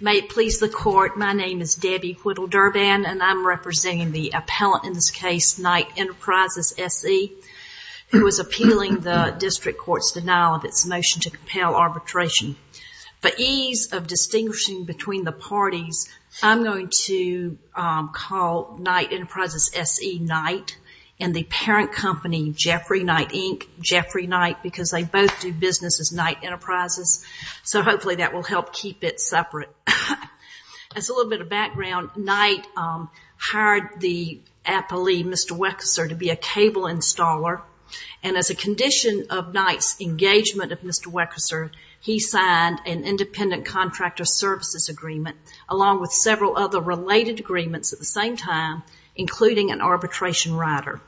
May it please the court, my name is Debbie Whittle-Durban and I'm representing the appellant in this case, Knight Enterprises S.E., who is appealing the district court's denial of its motion to compel arbitration. For ease of distinguishing between the parties, I'm going to call Knight Enterprises S.E. Knight and the parent company, Jeffrey Knight, Inc., Jeffrey Knight, because they both do business as Knight Enterprises. So hopefully that will help keep it separate. As a little bit of background, Knight hired the appellee, Mr. Weckesser, to be a cable installer. And as a condition of Knight's engagement of Mr. Weckesser, he signed an independent contractor services agreement, along with several other related agreements at the same time, including an arbitration rider.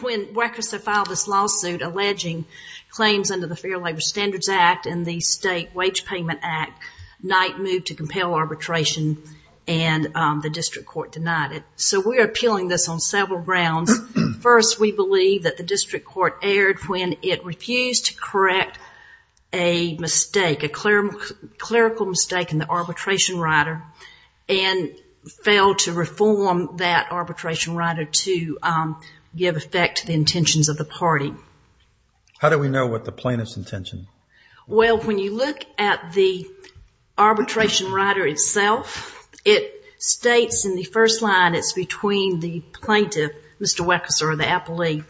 When Weckesser filed this lawsuit alleging claims under the Fair Labor Standards Act and the State Wage Payment Act, Knight moved to compel arbitration and the district court denied it. So we are appealing this on several grounds. First, we believe that the district court erred when it refused to correct a mistake, a clerical mistake in the arbitration rider and failed to reform that arbitration of the party. How do we know what the plaintiff's intention? Well, when you look at the arbitration rider itself, it states in the first line, it's between the plaintiff, Mr. Weckesser, or the appellee,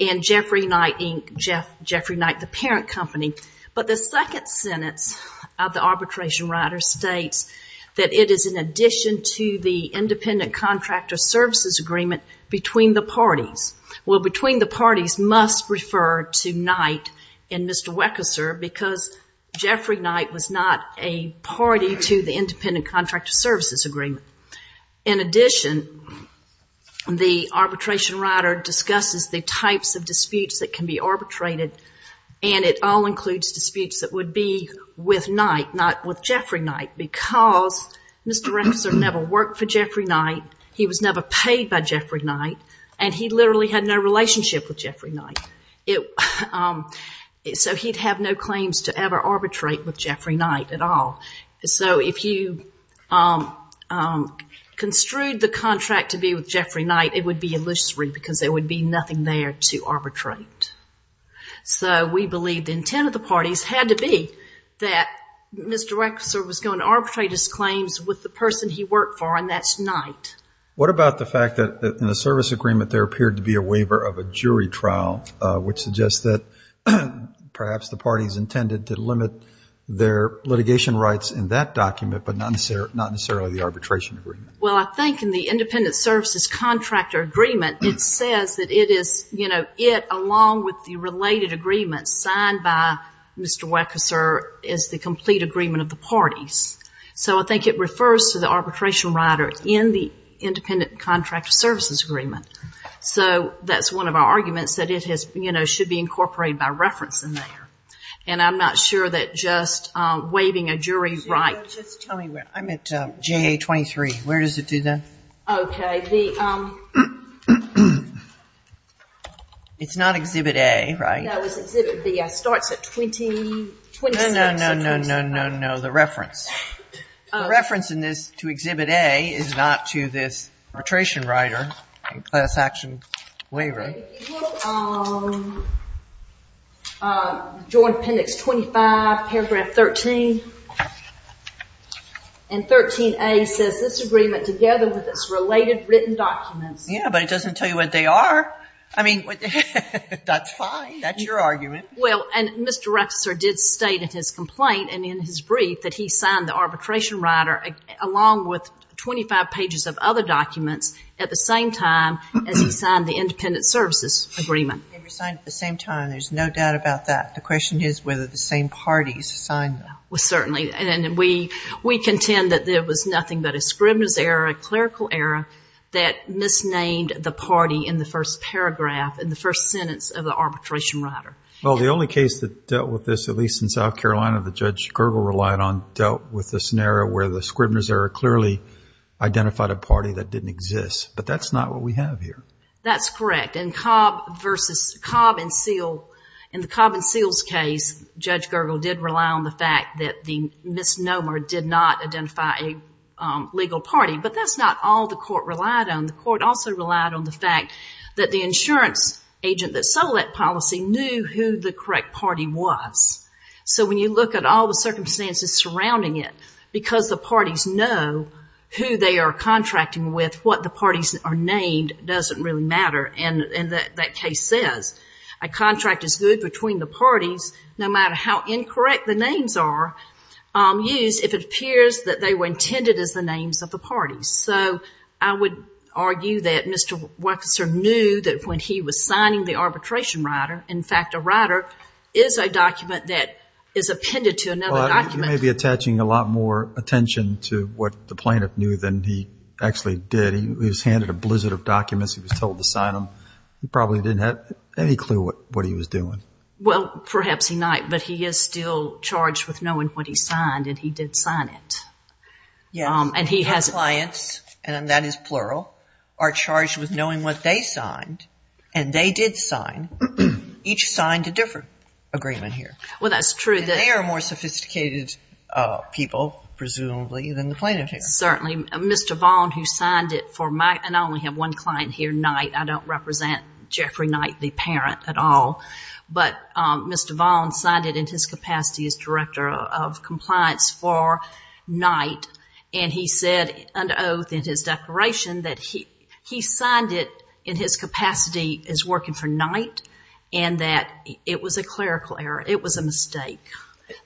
and Jeffrey Knight, Inc., Jeffrey Knight, the parent company. But the second sentence of the arbitration rider states that it is in addition to the must refer to Knight and Mr. Weckesser because Jeffrey Knight was not a party to the independent contractor services agreement. In addition, the arbitration rider discusses the types of disputes that can be arbitrated, and it all includes disputes that would be with Knight, not with Jeffrey Knight, because Mr. Weckesser never worked for Jeffrey Knight, he was never paid by Jeffrey Knight. So he'd have no claims to ever arbitrate with Jeffrey Knight at all. So if you construed the contract to be with Jeffrey Knight, it would be illusory because there would be nothing there to arbitrate. So we believe the intent of the parties had to be that Mr. Weckesser was going to arbitrate his claims with the person he worked for, and that's Knight. What about the fact that in the service agreement there appeared to be a waiver of a jury trial, which suggests that perhaps the parties intended to limit their litigation rights in that document, but not necessarily the arbitration agreement? Well, I think in the independent services contractor agreement, it says that it is, you know, it along with the related agreements signed by Mr. Weckesser is the complete agreement of the parties. So I think it refers to the arbitration rider in the independent contractor services agreement. So that's one of our arguments, that it has, you know, should be incorporated by reference in there. And I'm not sure that just waiving a jury right... Just tell me where, I'm at JA 23, where does it do that? Okay, the... It's not exhibit A, right? That was exhibit B, it starts at 26... No, no, no, no, no, no, the reference. The reference in this to exhibit A is not to this arbitration rider and class action waiver. Join appendix 25, paragraph 13, and 13A says this agreement together with its related written documents. Yeah, but it doesn't tell you what they are. I mean, that's fine, that's your argument. Well, and Mr. Weckesser did state in his complaint and in his brief that he signed the arbitration rider along with 25 pages of other documents at the same time as he signed the independent services agreement. They were signed at the same time, there's no doubt about that. The question is whether the same parties signed them. Well, certainly, and we contend that there was nothing but a scrivener's error, a clerical error that misnamed the party in the first paragraph, in the first sentence of the arbitration rider. Well, the only case that dealt with this, at least in South Carolina, that Judge Gergel relied on dealt with the scenario where the scrivener's error clearly identified a party that didn't exist, but that's not what we have here. That's correct, and Cobb versus Cobb and Seale, in the Cobb and Seale's case, Judge Gergel did rely on the fact that the misnomer did not identify a legal party, but that's not all the court relied on. The court also relied on the fact that the insurance agent that sold that policy knew who the correct party was. So when you look at all the circumstances surrounding it, because the parties know who they are contracting with, what the parties are named doesn't really matter, and that case says a contract is good between the parties, no matter how incorrect the names are used, if it appears that they were intended as names of the parties. So I would argue that Mr. Wexler knew that when he was signing the arbitration rider, in fact, a rider is a document that is appended to another document. You may be attaching a lot more attention to what the plaintiff knew than he actually did. He was handed a blizzard of documents. He was told to sign them. He probably didn't have any clue what he was doing. Well, perhaps he might, but he is still charged with knowing what he signed, and he did sign it. Yes, and his clients, and that is plural, are charged with knowing what they signed, and they did sign. Each signed a different agreement here. Well, that's true. They are more sophisticated people, presumably, than the plaintiff here. Certainly. Mr. Vaughan, who signed it for my, and I only have one client here, Knight. I don't represent Jeffrey Knight, at all, but Mr. Vaughan signed it in his capacity as Director of Compliance for Knight, and he said under oath in his declaration that he signed it in his capacity as working for Knight, and that it was a clerical error. It was a mistake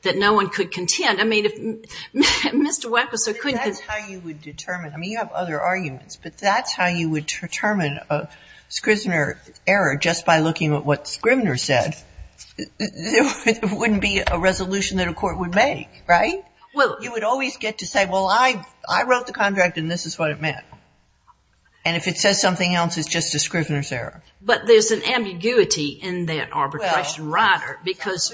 that no one could contend. I mean, Mr. Wexler couldn't. That's how you would determine. I mean, you have other arguments, but that's how you would determine a Scrivner error, just by looking at what Scrivner said. There wouldn't be a resolution that a court would make, right? Well, you would always get to say, well, I wrote the contract, and this is what it meant, and if it says something else, it's just a Scrivner's error. But there's an ambiguity in that arbitration, Ryder, because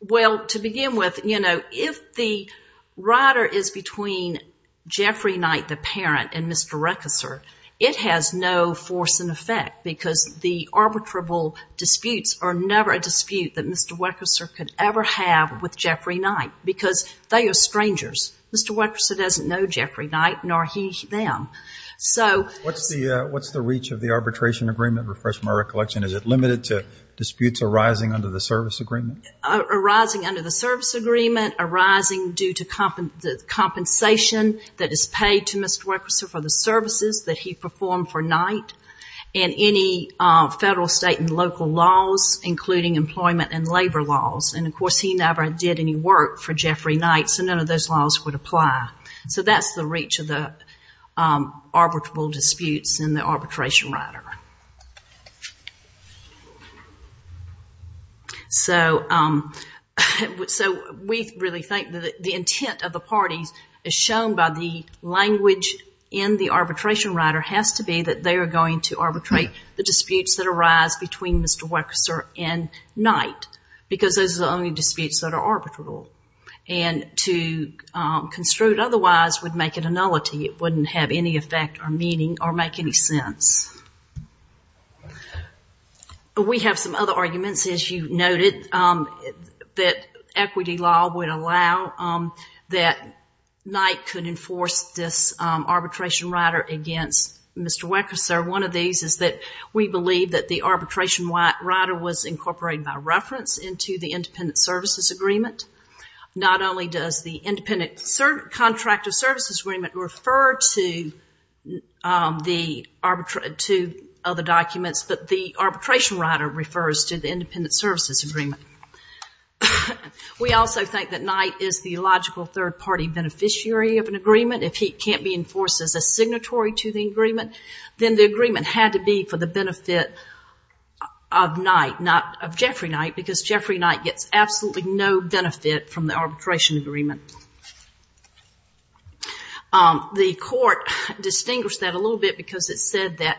Well, to begin with, you know, if the Ryder is between Jeffrey Knight, the parent, and Mr. Wexler, it has no force and effect, because the arbitrable disputes are never a dispute that Mr. Wexler could ever have with Jeffrey Knight, because they are strangers. Mr. Wexler doesn't know Jeffrey Knight, nor he them. So, what's the reach of the arbitration agreement, is it limited to disputes arising under the service agreement? Arising under the service agreement, arising due to the compensation that is paid to Mr. Wexler for the services that he performed for Knight, and any federal, state, and local laws, including employment and labor laws. And of course, he never did any work for Jeffrey Knight, so none of those laws would apply. So, that's the reach of the arbitrable disputes in the arbitration, Ryder. So, we really think that the intent of the parties is shown by the language in the arbitration, Ryder, has to be that they are going to arbitrate the disputes that arise between Mr. Wexler and Knight, because those are the only disputes that are arbitrable. And to construe it otherwise would make it a nullity. It wouldn't have any effect or meaning or make any sense. We have some other arguments, as you noted, that equity law would allow that Knight could enforce this arbitration, Ryder, against Mr. Wexler. One of these is that we believe that the arbitration, Ryder, was incorporated by reference into the independent services agreement. Not only does the independent contractor services agreement refer to the arbitration, to other documents, but the arbitration, Ryder, refers to the independent services agreement. We also think that Knight is the logical third-party beneficiary of an agreement. If he can't be enforced as a signatory to the agreement, then the agreement had to be for the benefit of Knight, not of Jeffrey Knight, because Jeffrey Knight gets absolutely no benefit from the arbitration agreement. The court distinguished that a little bit because it said that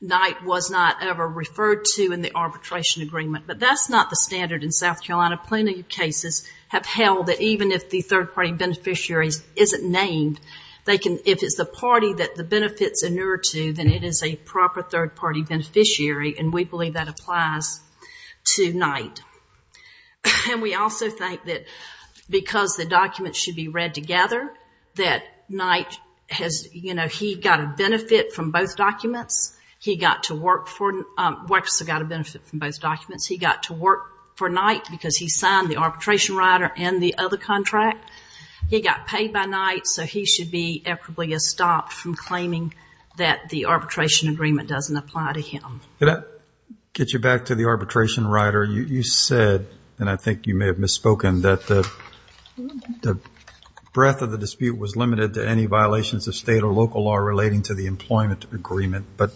Knight was not ever referred to in the arbitration agreement, but that's not the standard in South Carolina. Plenty of cases have held that even if the third-party beneficiary isn't named, they can, if it's the party that the benefit's inured to, then it is a proper third-party beneficiary, and we believe that applies to Knight. And we also think that because the documents should be read together, that Knight has, you know, he got a benefit from both documents. He got to work for, Wexler got a benefit from both documents. He got to work for Knight because he signed the arbitration, Ryder, and the other contract. He got paid by Knight, so he should be stopped from claiming that the arbitration agreement doesn't apply to him. Can I get you back to the arbitration, Ryder? You said, and I think you may have misspoken, that the breadth of the dispute was limited to any violations of state or local law relating to the employment agreement, but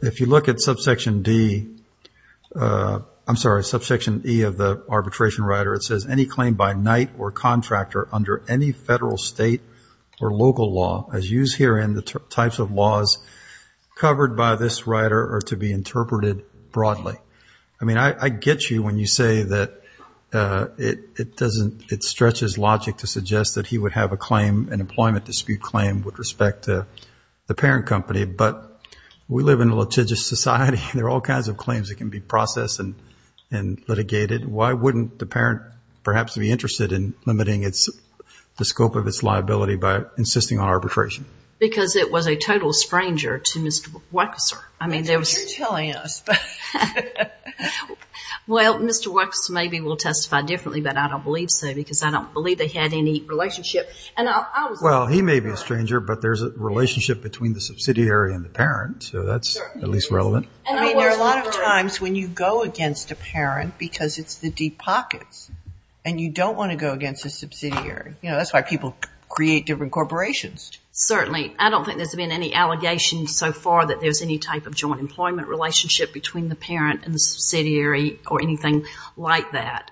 if you look at subsection D, I'm sorry, subsection E of the arbitration, Ryder, it says any claim by Knight or contractor under any federal, state, or local law, as used herein, the types of laws covered by this, Ryder, are to be interpreted broadly. I mean, I get you when you say that it doesn't, it stretches logic to suggest that he would have a claim, an employment dispute claim with respect to the parent company, but we live in a litigious society. There are all kinds of claims that can be processed and litigated. Why wouldn't the parent perhaps be interested in limiting the scope of its liability by insisting on arbitration? Because it was a total stranger to Mr. Weckeser. I mean, you're telling us. Well, Mr. Weckeser maybe will testify differently, but I don't believe so, because I don't believe they had any relationship. Well, he may be a stranger, but there's a relationship between the subsidiary and the parent, so that's at least relevant. I mean, there are a lot of times when you go against a parent because it's the deep pockets. And you don't want to go against a subsidiary. You know, that's why people create different corporations. Certainly. I don't think there's been any allegations so far that there's any type of joint employment relationship between the parent and the subsidiary or anything like that.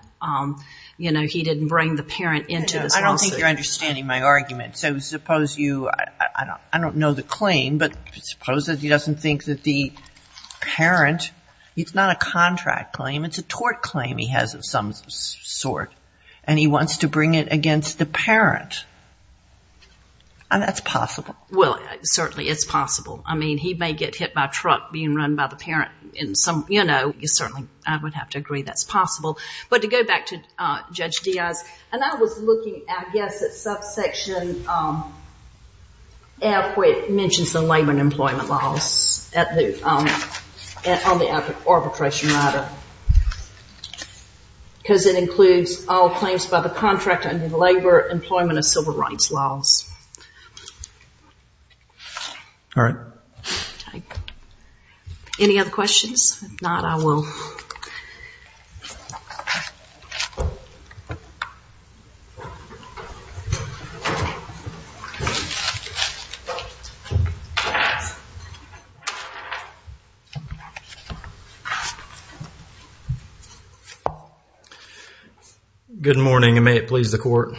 You know, he didn't bring the parent into this lawsuit. I don't think you're understanding my argument. So suppose you, I don't know the claim, but suppose that he doesn't think that the parent, it's not a contract claim. It's a sort, and he wants to bring it against the parent. And that's possible. Well, certainly it's possible. I mean, he may get hit by a truck being run by the parent in some, you know, you certainly, I would have to agree that's possible. But to go back to Judge Diaz, and I was looking, I guess, at subsection F where it mentions the labor and employment laws on the arbitration matter. Because it includes all claims by the contractor under the labor, employment, and civil rights laws. All right. Any other questions? If not, I will. Good morning, and may it please the court.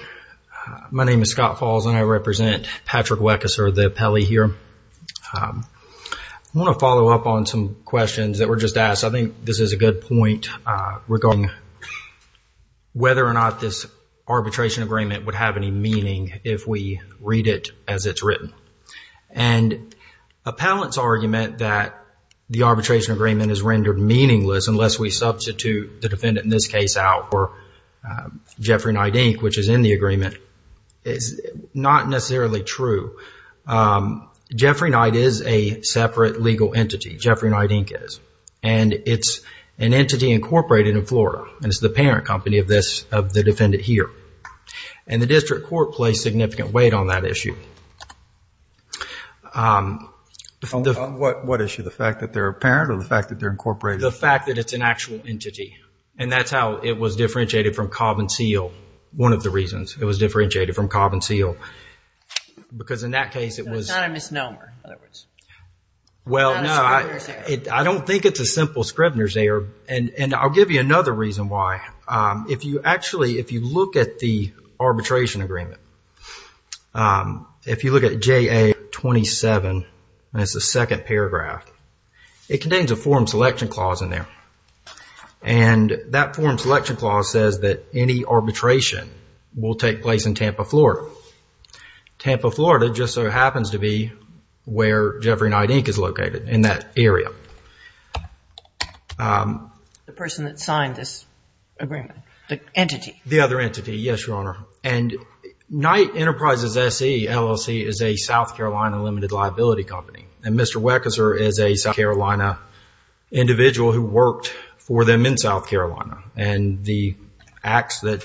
My name is Scott Falls, and I represent Patrick Weckeser, the appellee here. I want to follow up on some questions that were just asked. I think this is a good point regarding whether or not this arbitration agreement would have any meaning if we read it as it's written. And appellant's argument that the arbitration agreement is rendered meaningless unless we substitute the defendant in this case out for Jeffrey Knight, Inc., which is in the agreement, is not necessarily true. Jeffrey Knight is a separate legal entity. Jeffrey Knight, Inc. is. And it's an entity incorporated in Florida. And it's the parent company of this, of the defendant here. And the district court placed significant weight on that issue. What issue? The fact that they're a parent or the fact that they're incorporated? The fact that it's an actual entity. And that's how it was differentiated from Cobb and Seale. One of the reasons it was differentiated from Cobb and Seale. Because in that case, it was. It's not a misnomer, in other words. Well, no, I don't think it's a simple Scrivener's error. And I'll give you another reason why. If you actually, if you look at the arbitration agreement, if you look at JA 27, and it's the second paragraph, it contains a form selection clause in there. And that form selection clause says that any arbitration will take place in Tampa, Florida. Tampa, Florida just so happens to be where Jeffrey Knight, Inc. is located in that area. The person that signed this agreement, the entity. The other entity, yes, Your Honor. And Knight Enterprises SE LLC is a South Carolina limited liability company. And Mr. Weckeser is a South Carolina individual who worked for them in South Carolina. And the acts that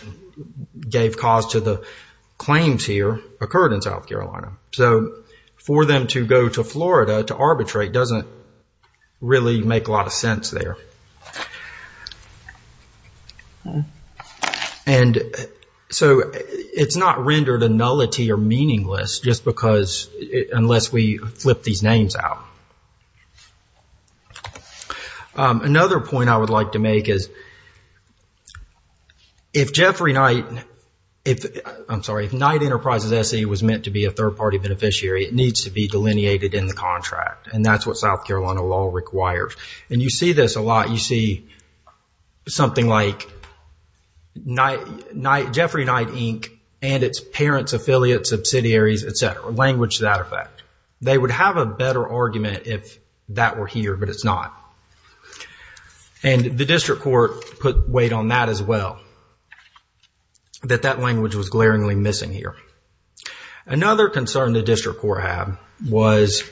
gave cause to the claims here occurred in South Carolina. So for them to go to Florida to arbitrate doesn't really make a lot of sense there. And so it's not rendered a nullity or meaningless just because, unless we flip these names out. Another point I would like to make is, if Jeffrey Knight, I'm sorry, if Knight Enterprises SE was meant to be a third party beneficiary, it needs to be delineated in the contract. And that's what South Carolina law requires. And you see this a lot. You see something like Jeffrey Knight, Inc. and its parents, affiliates, subsidiaries, et cetera. Language to that effect. They would have a better argument if that were here, but it's not. And the district court put weight on that as well. That that language was glaringly missing here. Another concern the district court had was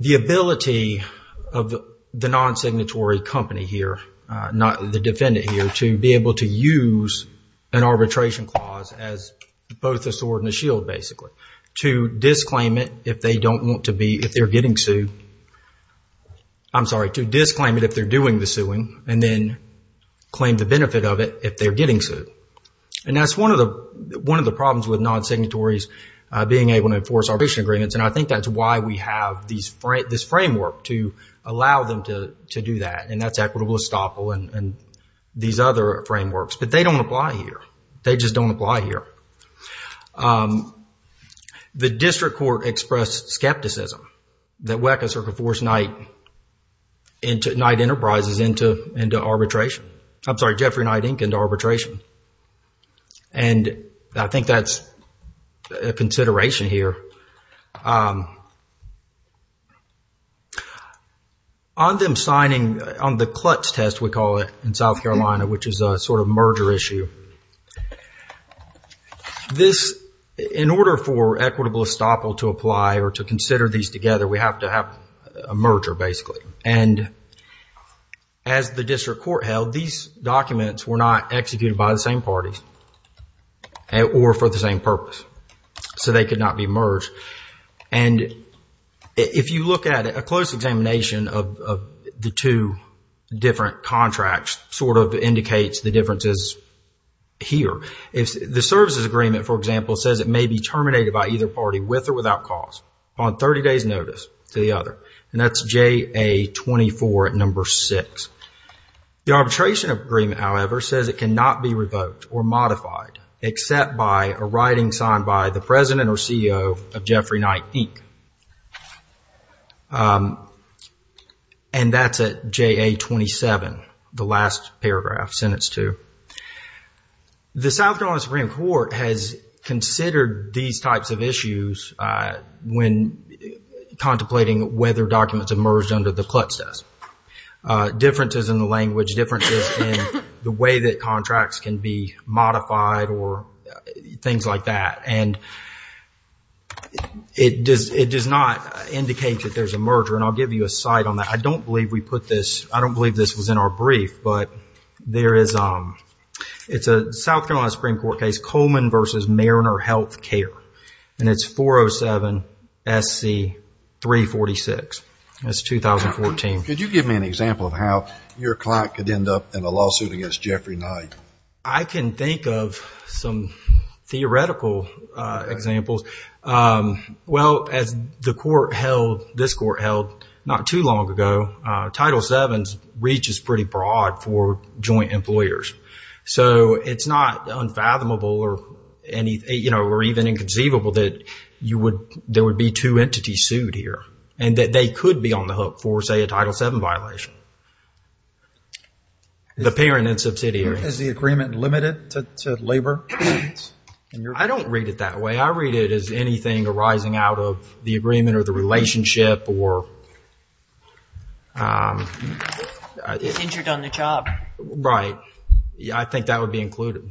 the ability of the non-signatory company here, not the defendant here, to be able to use an arbitration clause as both a sword and a shield basically. To disclaim it if they don't want to be, if they're getting sued. I'm sorry, to disclaim it if they're doing the suing, and then claim the benefit of it if they're getting sued. And that's one of the problems with non-signatories being able to enforce arbitration agreements. And I think that's why we have this framework to allow them to do that. And that's equitable estoppel and these other frameworks. But they don't apply here. They just don't apply here. The district court expressed skepticism that WECA is going to force Knight into Knight Enterprises into arbitration. I'm sorry, Jeffrey Knight, Inc. into arbitration. And I think that's a consideration here. On them signing, on the clutch test, we call it in South Carolina, which is a sort of merger issue. This, in order for equitable estoppel to apply or to consider these together, we have to have a merger basically. And as the district court held, these documents were not executed by the same parties or for the same purpose. So they could not be merged. And if you look at it, a close examination of the two different contracts sort of indicates the differences here. If the services agreement, for example, says it may be terminated by either party with or without cause on 30 days notice to the other. And that's JA 24 at number six. The arbitration agreement, however, says it cannot be revoked or modified except by a writing signed by the president or CEO of Jeffrey Knight, Inc. And that's at JA 27, the last paragraph, sentence two. The South Carolina Supreme Court has considered these types of issues when contemplating whether documents emerged under the clutch test. Differences in the language, differences in the way that contracts can be modified or things like that. And it does not indicate that there's a merger. And I'll give you a site on that. I don't believe we put this. I don't believe this was in our brief. But it's a South Carolina Supreme Court case, Coleman versus Mariner Health Care. And it's 407 SC 346. That's 2014. Could you give me an example of how your client could end up in a lawsuit against Jeffrey Knight? I can think of some theoretical examples. Well, as the court held, this court held not too long ago, Title VII's reach is pretty broad for joint employers. So it's not unfathomable or even inconceivable that there would be two entities sued here. And that they could be on the hook for, say, a Title VII violation. The parent and subsidiary. Is the agreement limited to labor? I don't read it that way. I read it as anything arising out of the agreement or the relationship or... Is injured on the job. Right. I think that would be included.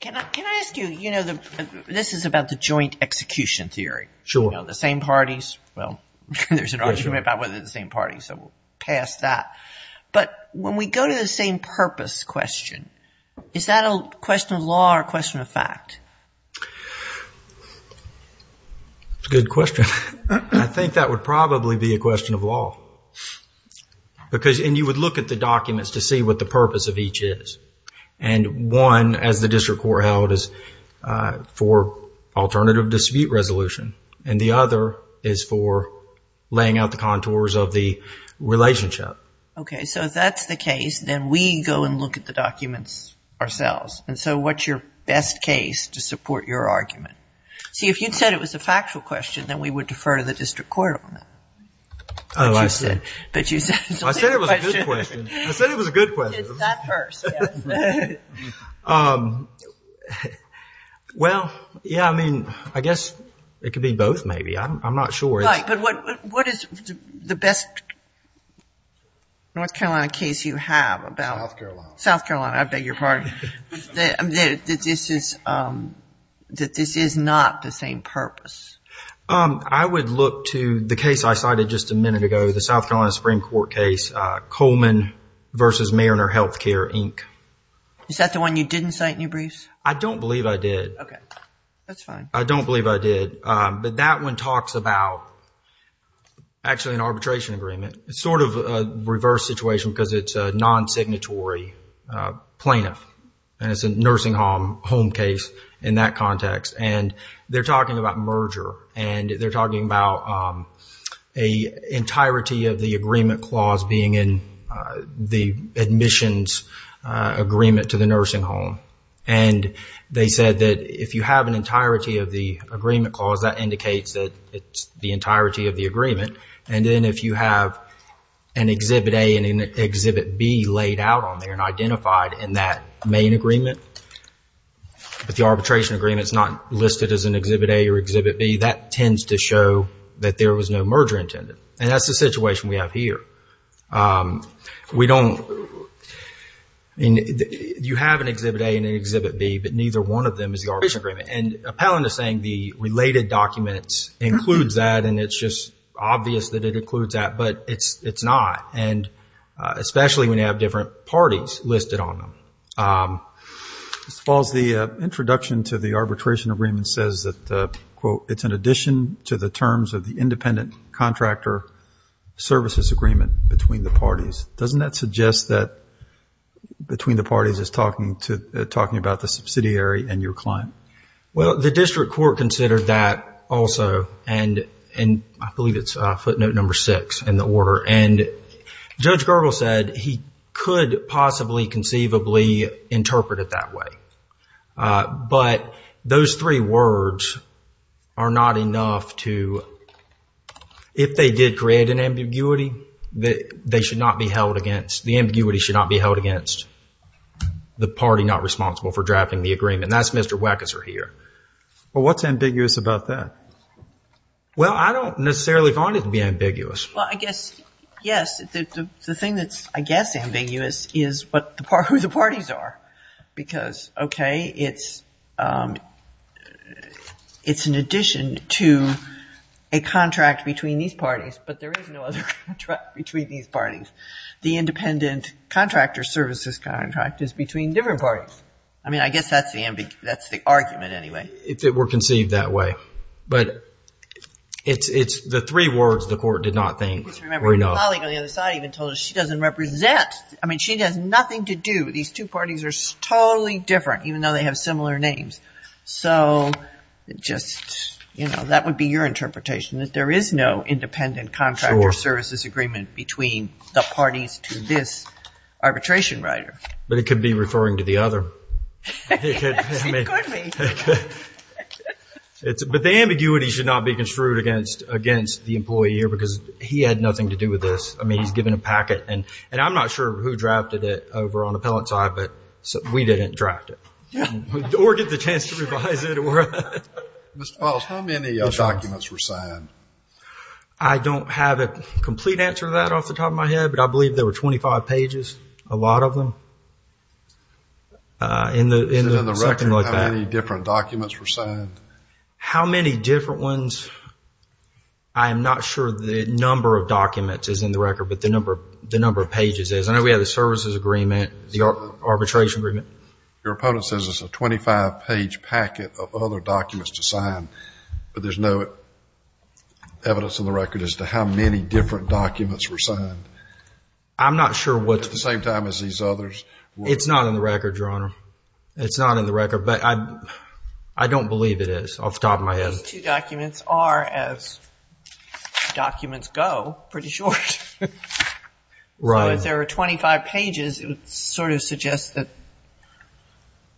Can I ask you, you know, this is about the joint execution theory. Sure. The same parties. Well, there's an argument about whether the same parties. So we'll pass that. But when we go to the same purpose question, is that a question of law or a question of fact? Good question. I think that would probably be a question of law. Because, and you would look at the documents to see what the purpose of each is. And one, as the district court held, is for alternative dispute resolution. And the other is for laying out the contours of the relationship. OK. So if that's the case, then we go and look at the documents ourselves. And so what's your best case to support your argument? See, if you'd said it was a factual question, then we would defer to the district court on that. Oh, I see. But you said it's a legal question. I said it was a good question. I said it was a good question. Well, yeah, I mean, I guess it could be both, maybe. I'm not sure. What is the best North Carolina case you have about South Carolina? I beg your pardon. That this is not the same purpose. I would look to the case I cited just a minute ago, the South Carolina Supreme Court case, Coleman v. Mariner Healthcare, Inc. Is that the one you didn't cite in your briefs? I don't believe I did. OK. That's fine. I don't believe I did. But that one talks about, actually, an arbitration agreement. It's sort of a reverse situation because it's a non-signatory plaintiff. And it's a nursing home case in that context. And they're talking about merger. And they're talking about an entirety of the agreement clause being in the admissions agreement to the nursing home. And they said that if you have an entirety of the agreement clause, that indicates that it's the entirety of the agreement. And then if you have an Exhibit A and an Exhibit B laid out on there and identified in that main agreement, but the arbitration agreement is not listed as an Exhibit A or Exhibit B, that tends to show that there was no merger intended. And that's the situation we have here. I mean, you have an Exhibit A and an Exhibit B, but neither one of them is the arbitration agreement. And Appellant is saying the related documents includes that. And it's just obvious that it includes that. But it's not. And especially when you have different parties listed on them. Mr. Falls, the introduction to the arbitration agreement says that, quote, it's an addition to the terms of the independent contractor services agreement between the parties. Doesn't that suggest that between the parties is talking to, talking about the subsidiary and your client? Well, the district court considered that also. And I believe it's footnote number six in the order. And Judge Gergel said he could possibly conceivably interpret it that way. But those three words are not enough to, quote, if they did create an ambiguity, that they should not be held against, the ambiguity should not be held against the party not responsible for drafting the agreement. That's Mr. Wackeser here. Well, what's ambiguous about that? Well, I don't necessarily find it to be ambiguous. Well, I guess, yes. The thing that's, I guess, ambiguous is who the parties are. Because, okay, it's an addition to a contract between these parties, but there is no other contract between these parties. The independent contractor services contract is between different parties. I mean, I guess that's the argument anyway. If it were conceived that way. But it's the three words the court did not think were enough. I remember Holly on the other side even told us she doesn't represent. I mean, she has nothing to do. These two parties are totally different, even though they have similar names. So just, you know, that would be your interpretation, that there is no independent contractor services agreement between the parties to this arbitration writer. But it could be referring to the other. Yes, it could be. But the ambiguity should not be construed against the employee here, because he had nothing to do with this. I mean, he's given a packet. And I'm not sure who drafted it over on the appellant side, but we didn't draft it. Or get the chance to revise it. Mr. Pauls, how many documents were signed? I don't have a complete answer to that off the top of my head, but I believe there were 25 pages, a lot of them. In the record, how many different documents were signed? How many different ones? I am not sure the number of documents is in the record, but the number of pages is. I know we have the services agreement, the arbitration agreement. Your opponent says it's a 25-page packet of other documents to sign, but there's no evidence in the record as to how many different documents were signed. I'm not sure what... At the same time as these others. It's not in the record, Your Honor. It's not in the record, but I don't believe it is off the top of my head. These two documents are, as documents go, pretty short. Right. So if there were 25 pages, it would sort of suggest that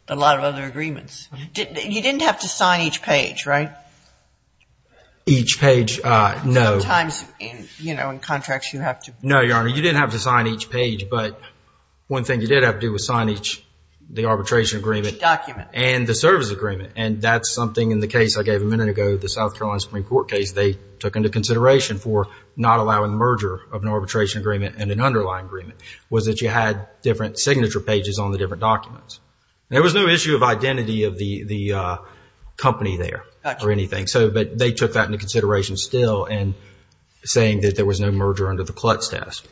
a lot of other agreements. You didn't have to sign each page, right? Each page, no. Sometimes, you know, in contracts you have to... No, Your Honor, you didn't have to sign each page, but one thing you did have to do was sign each, the arbitration agreement. Each document. And the service agreement. And that's something in the case I gave a minute ago, the South Carolina Supreme Court case, they took into consideration for not allowing merger of an arbitration agreement and an underlying agreement, was that you had different signature pages on the different documents. There was no issue of identity of the company there or anything. So, but they took that into consideration still and saying that there was no merger under the clutz test.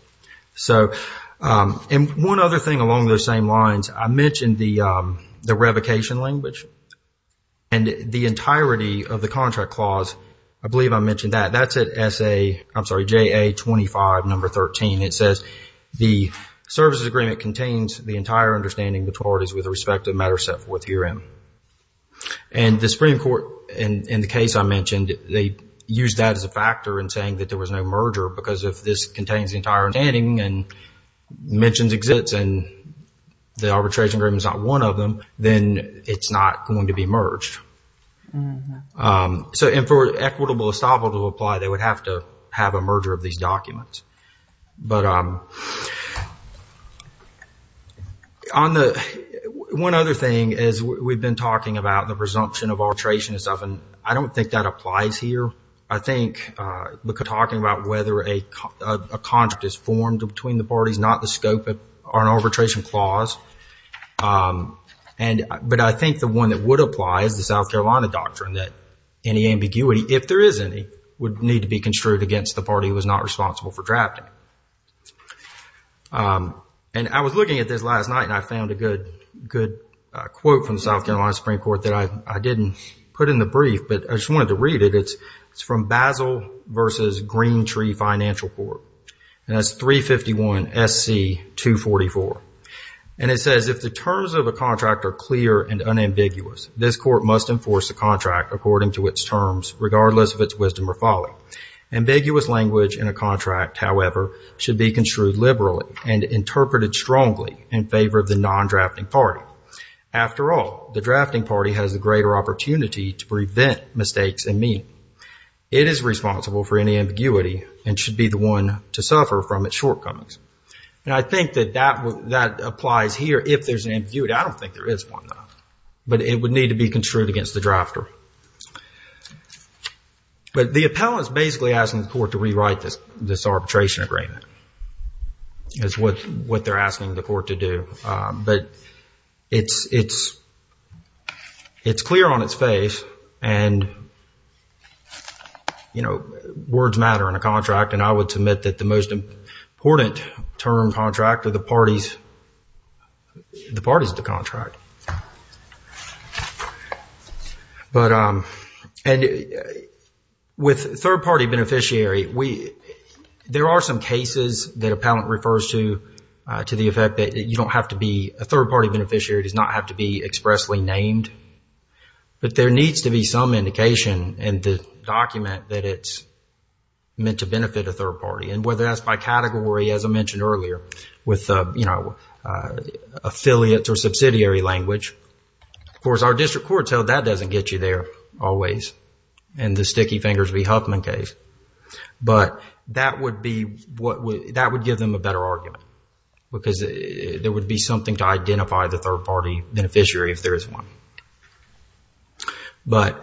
So, and one other thing along those same lines, I mentioned the revocation language and the entirety of the contract clause. I believe I mentioned that. That's at SA... I'm sorry, JA 25 number 13. It says the services agreement contains the entire understanding maturities with respect to matter set forth herein. And the Supreme Court, in the case I mentioned, they used that as a factor in saying that there was no merger because if this contains the entire understanding and mentions exists and the arbitration agreement is not one of them, then it's not going to be merged. Mm-hmm. So, and for equitable estoppel to apply, they would have to have a merger of these documents. But on the... One other thing is we've been talking about the presumption of arbitration and stuff and I don't think that applies here. I think because talking about whether a contract is formed between the parties, not the scope of an arbitration clause. And, but I think the one that would apply is the South Carolina doctrine that any ambiguity, if there is any, would need to be construed against the party who was not responsible for drafting. And I was looking at this last night and I found a good quote from South Carolina Supreme Court that I didn't put in the brief, but I just wanted to read it. It's from Basel versus Green Tree Financial Court. And that's 351 SC 244. And it says, if the terms of a contract are clear and unambiguous, this court must enforce the contract according to its terms, regardless of its wisdom or folly. Ambiguous language in a contract, however, should be construed liberally and interpreted strongly in favor of the non-drafting party. After all, the drafting party has a greater opportunity to prevent mistakes and mean. It is responsible for any ambiguity and should be the one to suffer from its shortcomings. And I think that that applies here if there's an ambiguity. I don't think there is one, though. But it would need to be construed against the drafter. But the appellant's basically asking the court to rewrite this arbitration agreement. That's what they're asking the court to do. But it's clear on its face. And, you know, words matter in a contract. And I would submit that the most important term contract of the parties, the parties of the contract. But, and with third-party beneficiary, there are some cases that appellant refers to, to the effect that you don't have to be, a third-party beneficiary does not have to be expressly named. But there needs to be some indication in the document that it's meant to benefit a third party. And whether that's by category, as I mentioned earlier, with, you know, affiliates or subsidiary language. Of course, our district courts held that doesn't get you there always. And the sticky fingers v. Huffman case. But that would be what would, that would give them a better argument. Because there would be something to identify the third-party beneficiary if there is one. But,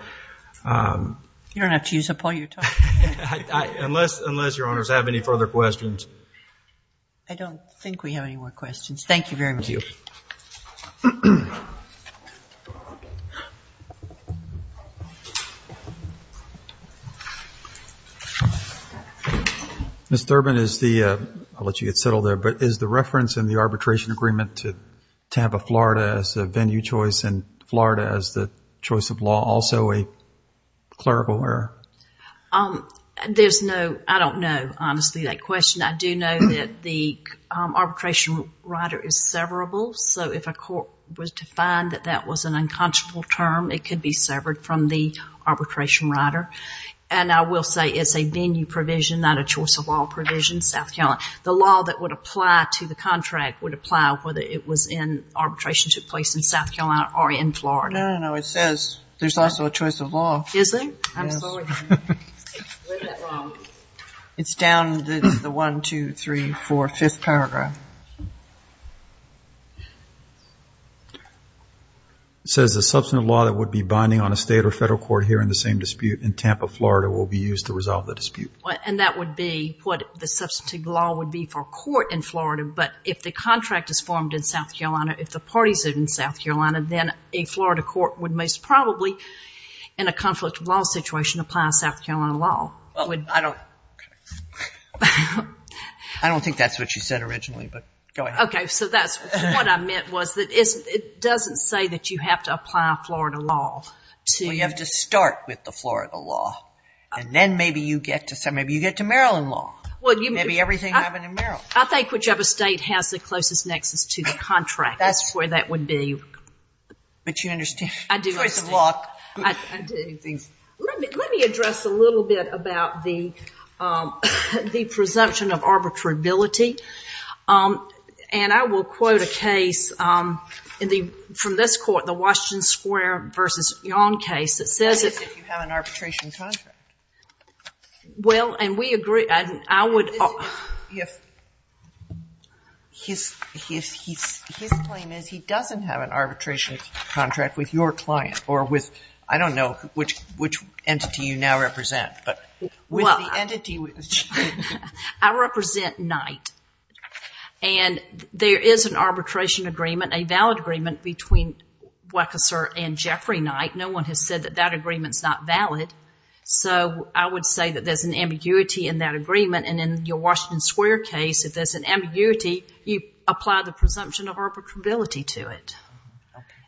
um. You don't have to use up all your time. I, I, unless, unless your honors have any further questions. I don't think we have any more questions. Thank you very much. Ms. Thurman, is the, I'll let you get settled there. But is the reference in the arbitration agreement to Tampa, Florida as a venue choice and Florida as the choice of law also a clerical error? Um, there's no, I don't know, honestly, that question. I do know that the arbitration rider is severable. So if a court was to find that that was an unconscionable term, it could be severed from the arbitration rider. And I will say it's a venue provision, not a choice of law provision. South Carolina, the law that would apply to the contract would apply whether it was in arbitration took place in South Carolina or in Florida. No, no, no. It says there's also a choice of law. Is there? It's down the 1, 2, 3, 4, 5th paragraph. It says the substantive law that would be binding on a state or federal court here in the same dispute in Tampa, Florida will be used to resolve the dispute. And that would be what the substantive law would be for court in Florida. But if the contract is formed in South Carolina, if the parties are in South Carolina, then a Florida court would most probably, in a conflict of law situation, apply a South Carolina law. I don't think that's what you said originally, but go ahead. OK, so that's what I meant was that it doesn't say that you have to apply a Florida law to- Well, you have to start with the Florida law. And then maybe you get to Maryland law. Maybe everything happened in Maryland. I think whichever state has the closest nexus to the contract. That's where that would be. But you understand the choice of law. Let me address a little bit about the presumption of arbitrability. And I will quote a case from this court, the Washington Square versus Yon case that says- That is if you have an arbitration contract. Well, and we agree. And I would- If his claim is he doesn't have an arbitration contract with your client or with, I don't know which entity you now represent. I represent Knight. And there is an arbitration agreement, a valid agreement, between Wechsler and Jeffrey Knight. No one has said that that agreement's not valid. So I would say that there's an ambiguity in that agreement. And in your Washington Square case, if there's an ambiguity, you apply the presumption of arbitrability to it.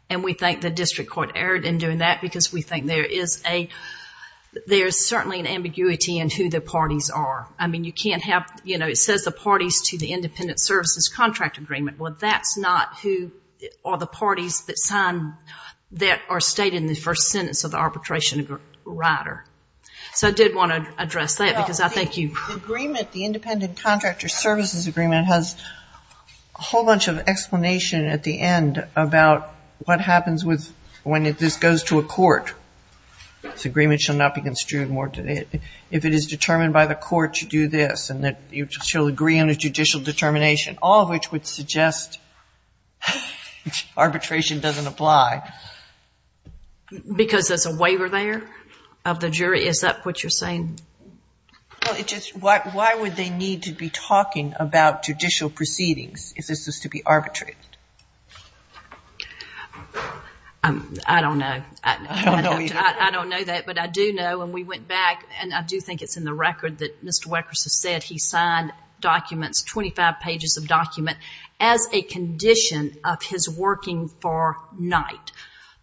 And we think the district court erred in doing that because we think there is certainly an ambiguity in who the parties are. I mean, you can't have- You know, it says the parties to the independent services contract agreement. Well, that's not who are the parties that sign- that are stated in the first sentence of the arbitration rider. So I did want to address that because I think you- The agreement, the independent contractor services agreement, has a whole bunch of explanation at the end about what happens when this goes to a court. This agreement shall not be construed more- if it is determined by the court to do this and that you shall agree on a judicial determination, all of which would suggest arbitration doesn't apply. Because there's a waiver there of the jury? Is that what you're saying? Well, it just- Why would they need to be talking about judicial proceedings if this was to be arbitrated? I don't know. I don't know either. I don't know that, but I do know when we went back, and I do think it's in the record that Mr. Weckers has said he signed documents, 25 pages of document, as a condition of his working for night.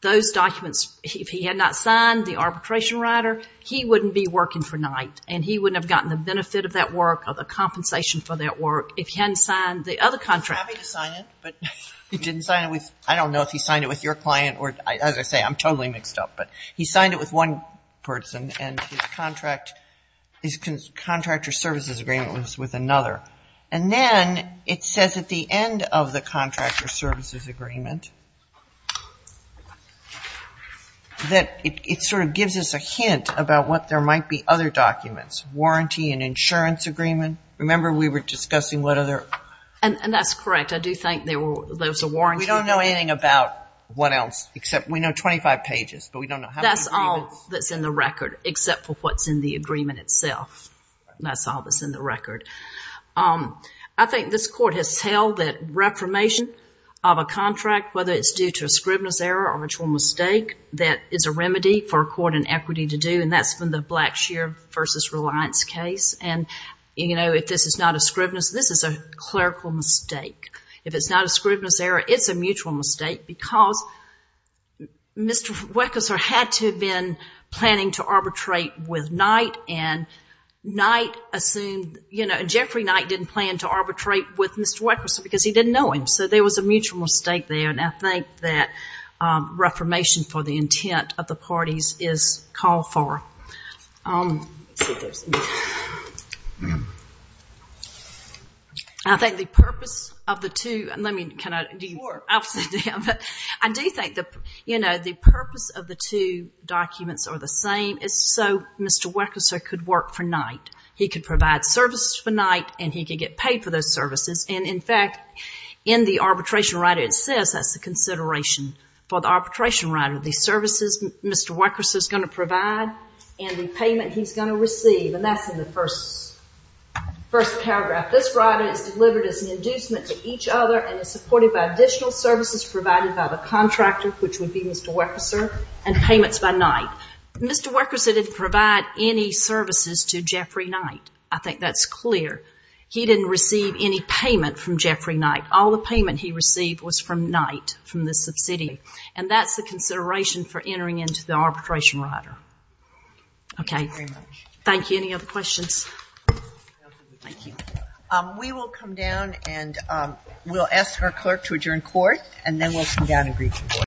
Those documents, if he had not signed the arbitration rider, he wouldn't be working for night, and he wouldn't have gotten the benefit of that work or the compensation for that work if he hadn't signed the other contract. He was happy to sign it, but he didn't sign it with- I don't know if he signed it with your client, or as I say, I'm totally mixed up, but he signed it with one person, and his contractor services agreement was with another. And then it says at the end of the contractor services agreement that it gives us a hint about what there might be other documents. Warranty and insurance agreement. Remember, we were discussing what other- And that's correct. I do think there was a warranty. We don't know anything about what else, except we know 25 pages, but we don't know how many- That's all that's in the record, except for what's in the agreement itself. That's all that's in the record. I think this court has held that reformation of a contract whether it's due to a scrivener's error or mutual mistake, that is a remedy for a court in equity to do, and that's from the Blackshear v. Reliance case. And if this is not a scrivener's- This is a clerical mistake. If it's not a scrivener's error, it's a mutual mistake because Mr. Weckleser had to have been planning to arbitrate with Knight, and Knight assumed- Jeffrey Knight didn't plan to arbitrate with Mr. Weckleser because he didn't know him. So there was a mutual mistake there, and I think that reformation for the intent of the parties is called for. I think the purpose of the two- I do think the purpose of the two documents are the same. It's so Mr. Weckleser could work for Knight. He could provide services for Knight, and he could get paid for those services. And in fact, in the arbitration rider, it says that's the consideration for the arbitration rider. The services Mr. Weckleser is going to provide and the payment he's going to receive, and that's in the first paragraph. This rider is delivered as an inducement to each other and is supported by additional services provided by the contractor, which would be Mr. Weckleser, and payments by Knight. Mr. Weckleser didn't provide any services to Jeffrey Knight. I think that's clear. He didn't receive any payment from Jeffrey Knight. All the payment he received was from Knight, from the subsidy. And that's the consideration for entering into the arbitration rider. Okay. Thank you. Any other questions? Thank you. We will come down and we'll ask our clerk to adjourn court, and then we'll come down and brief the board.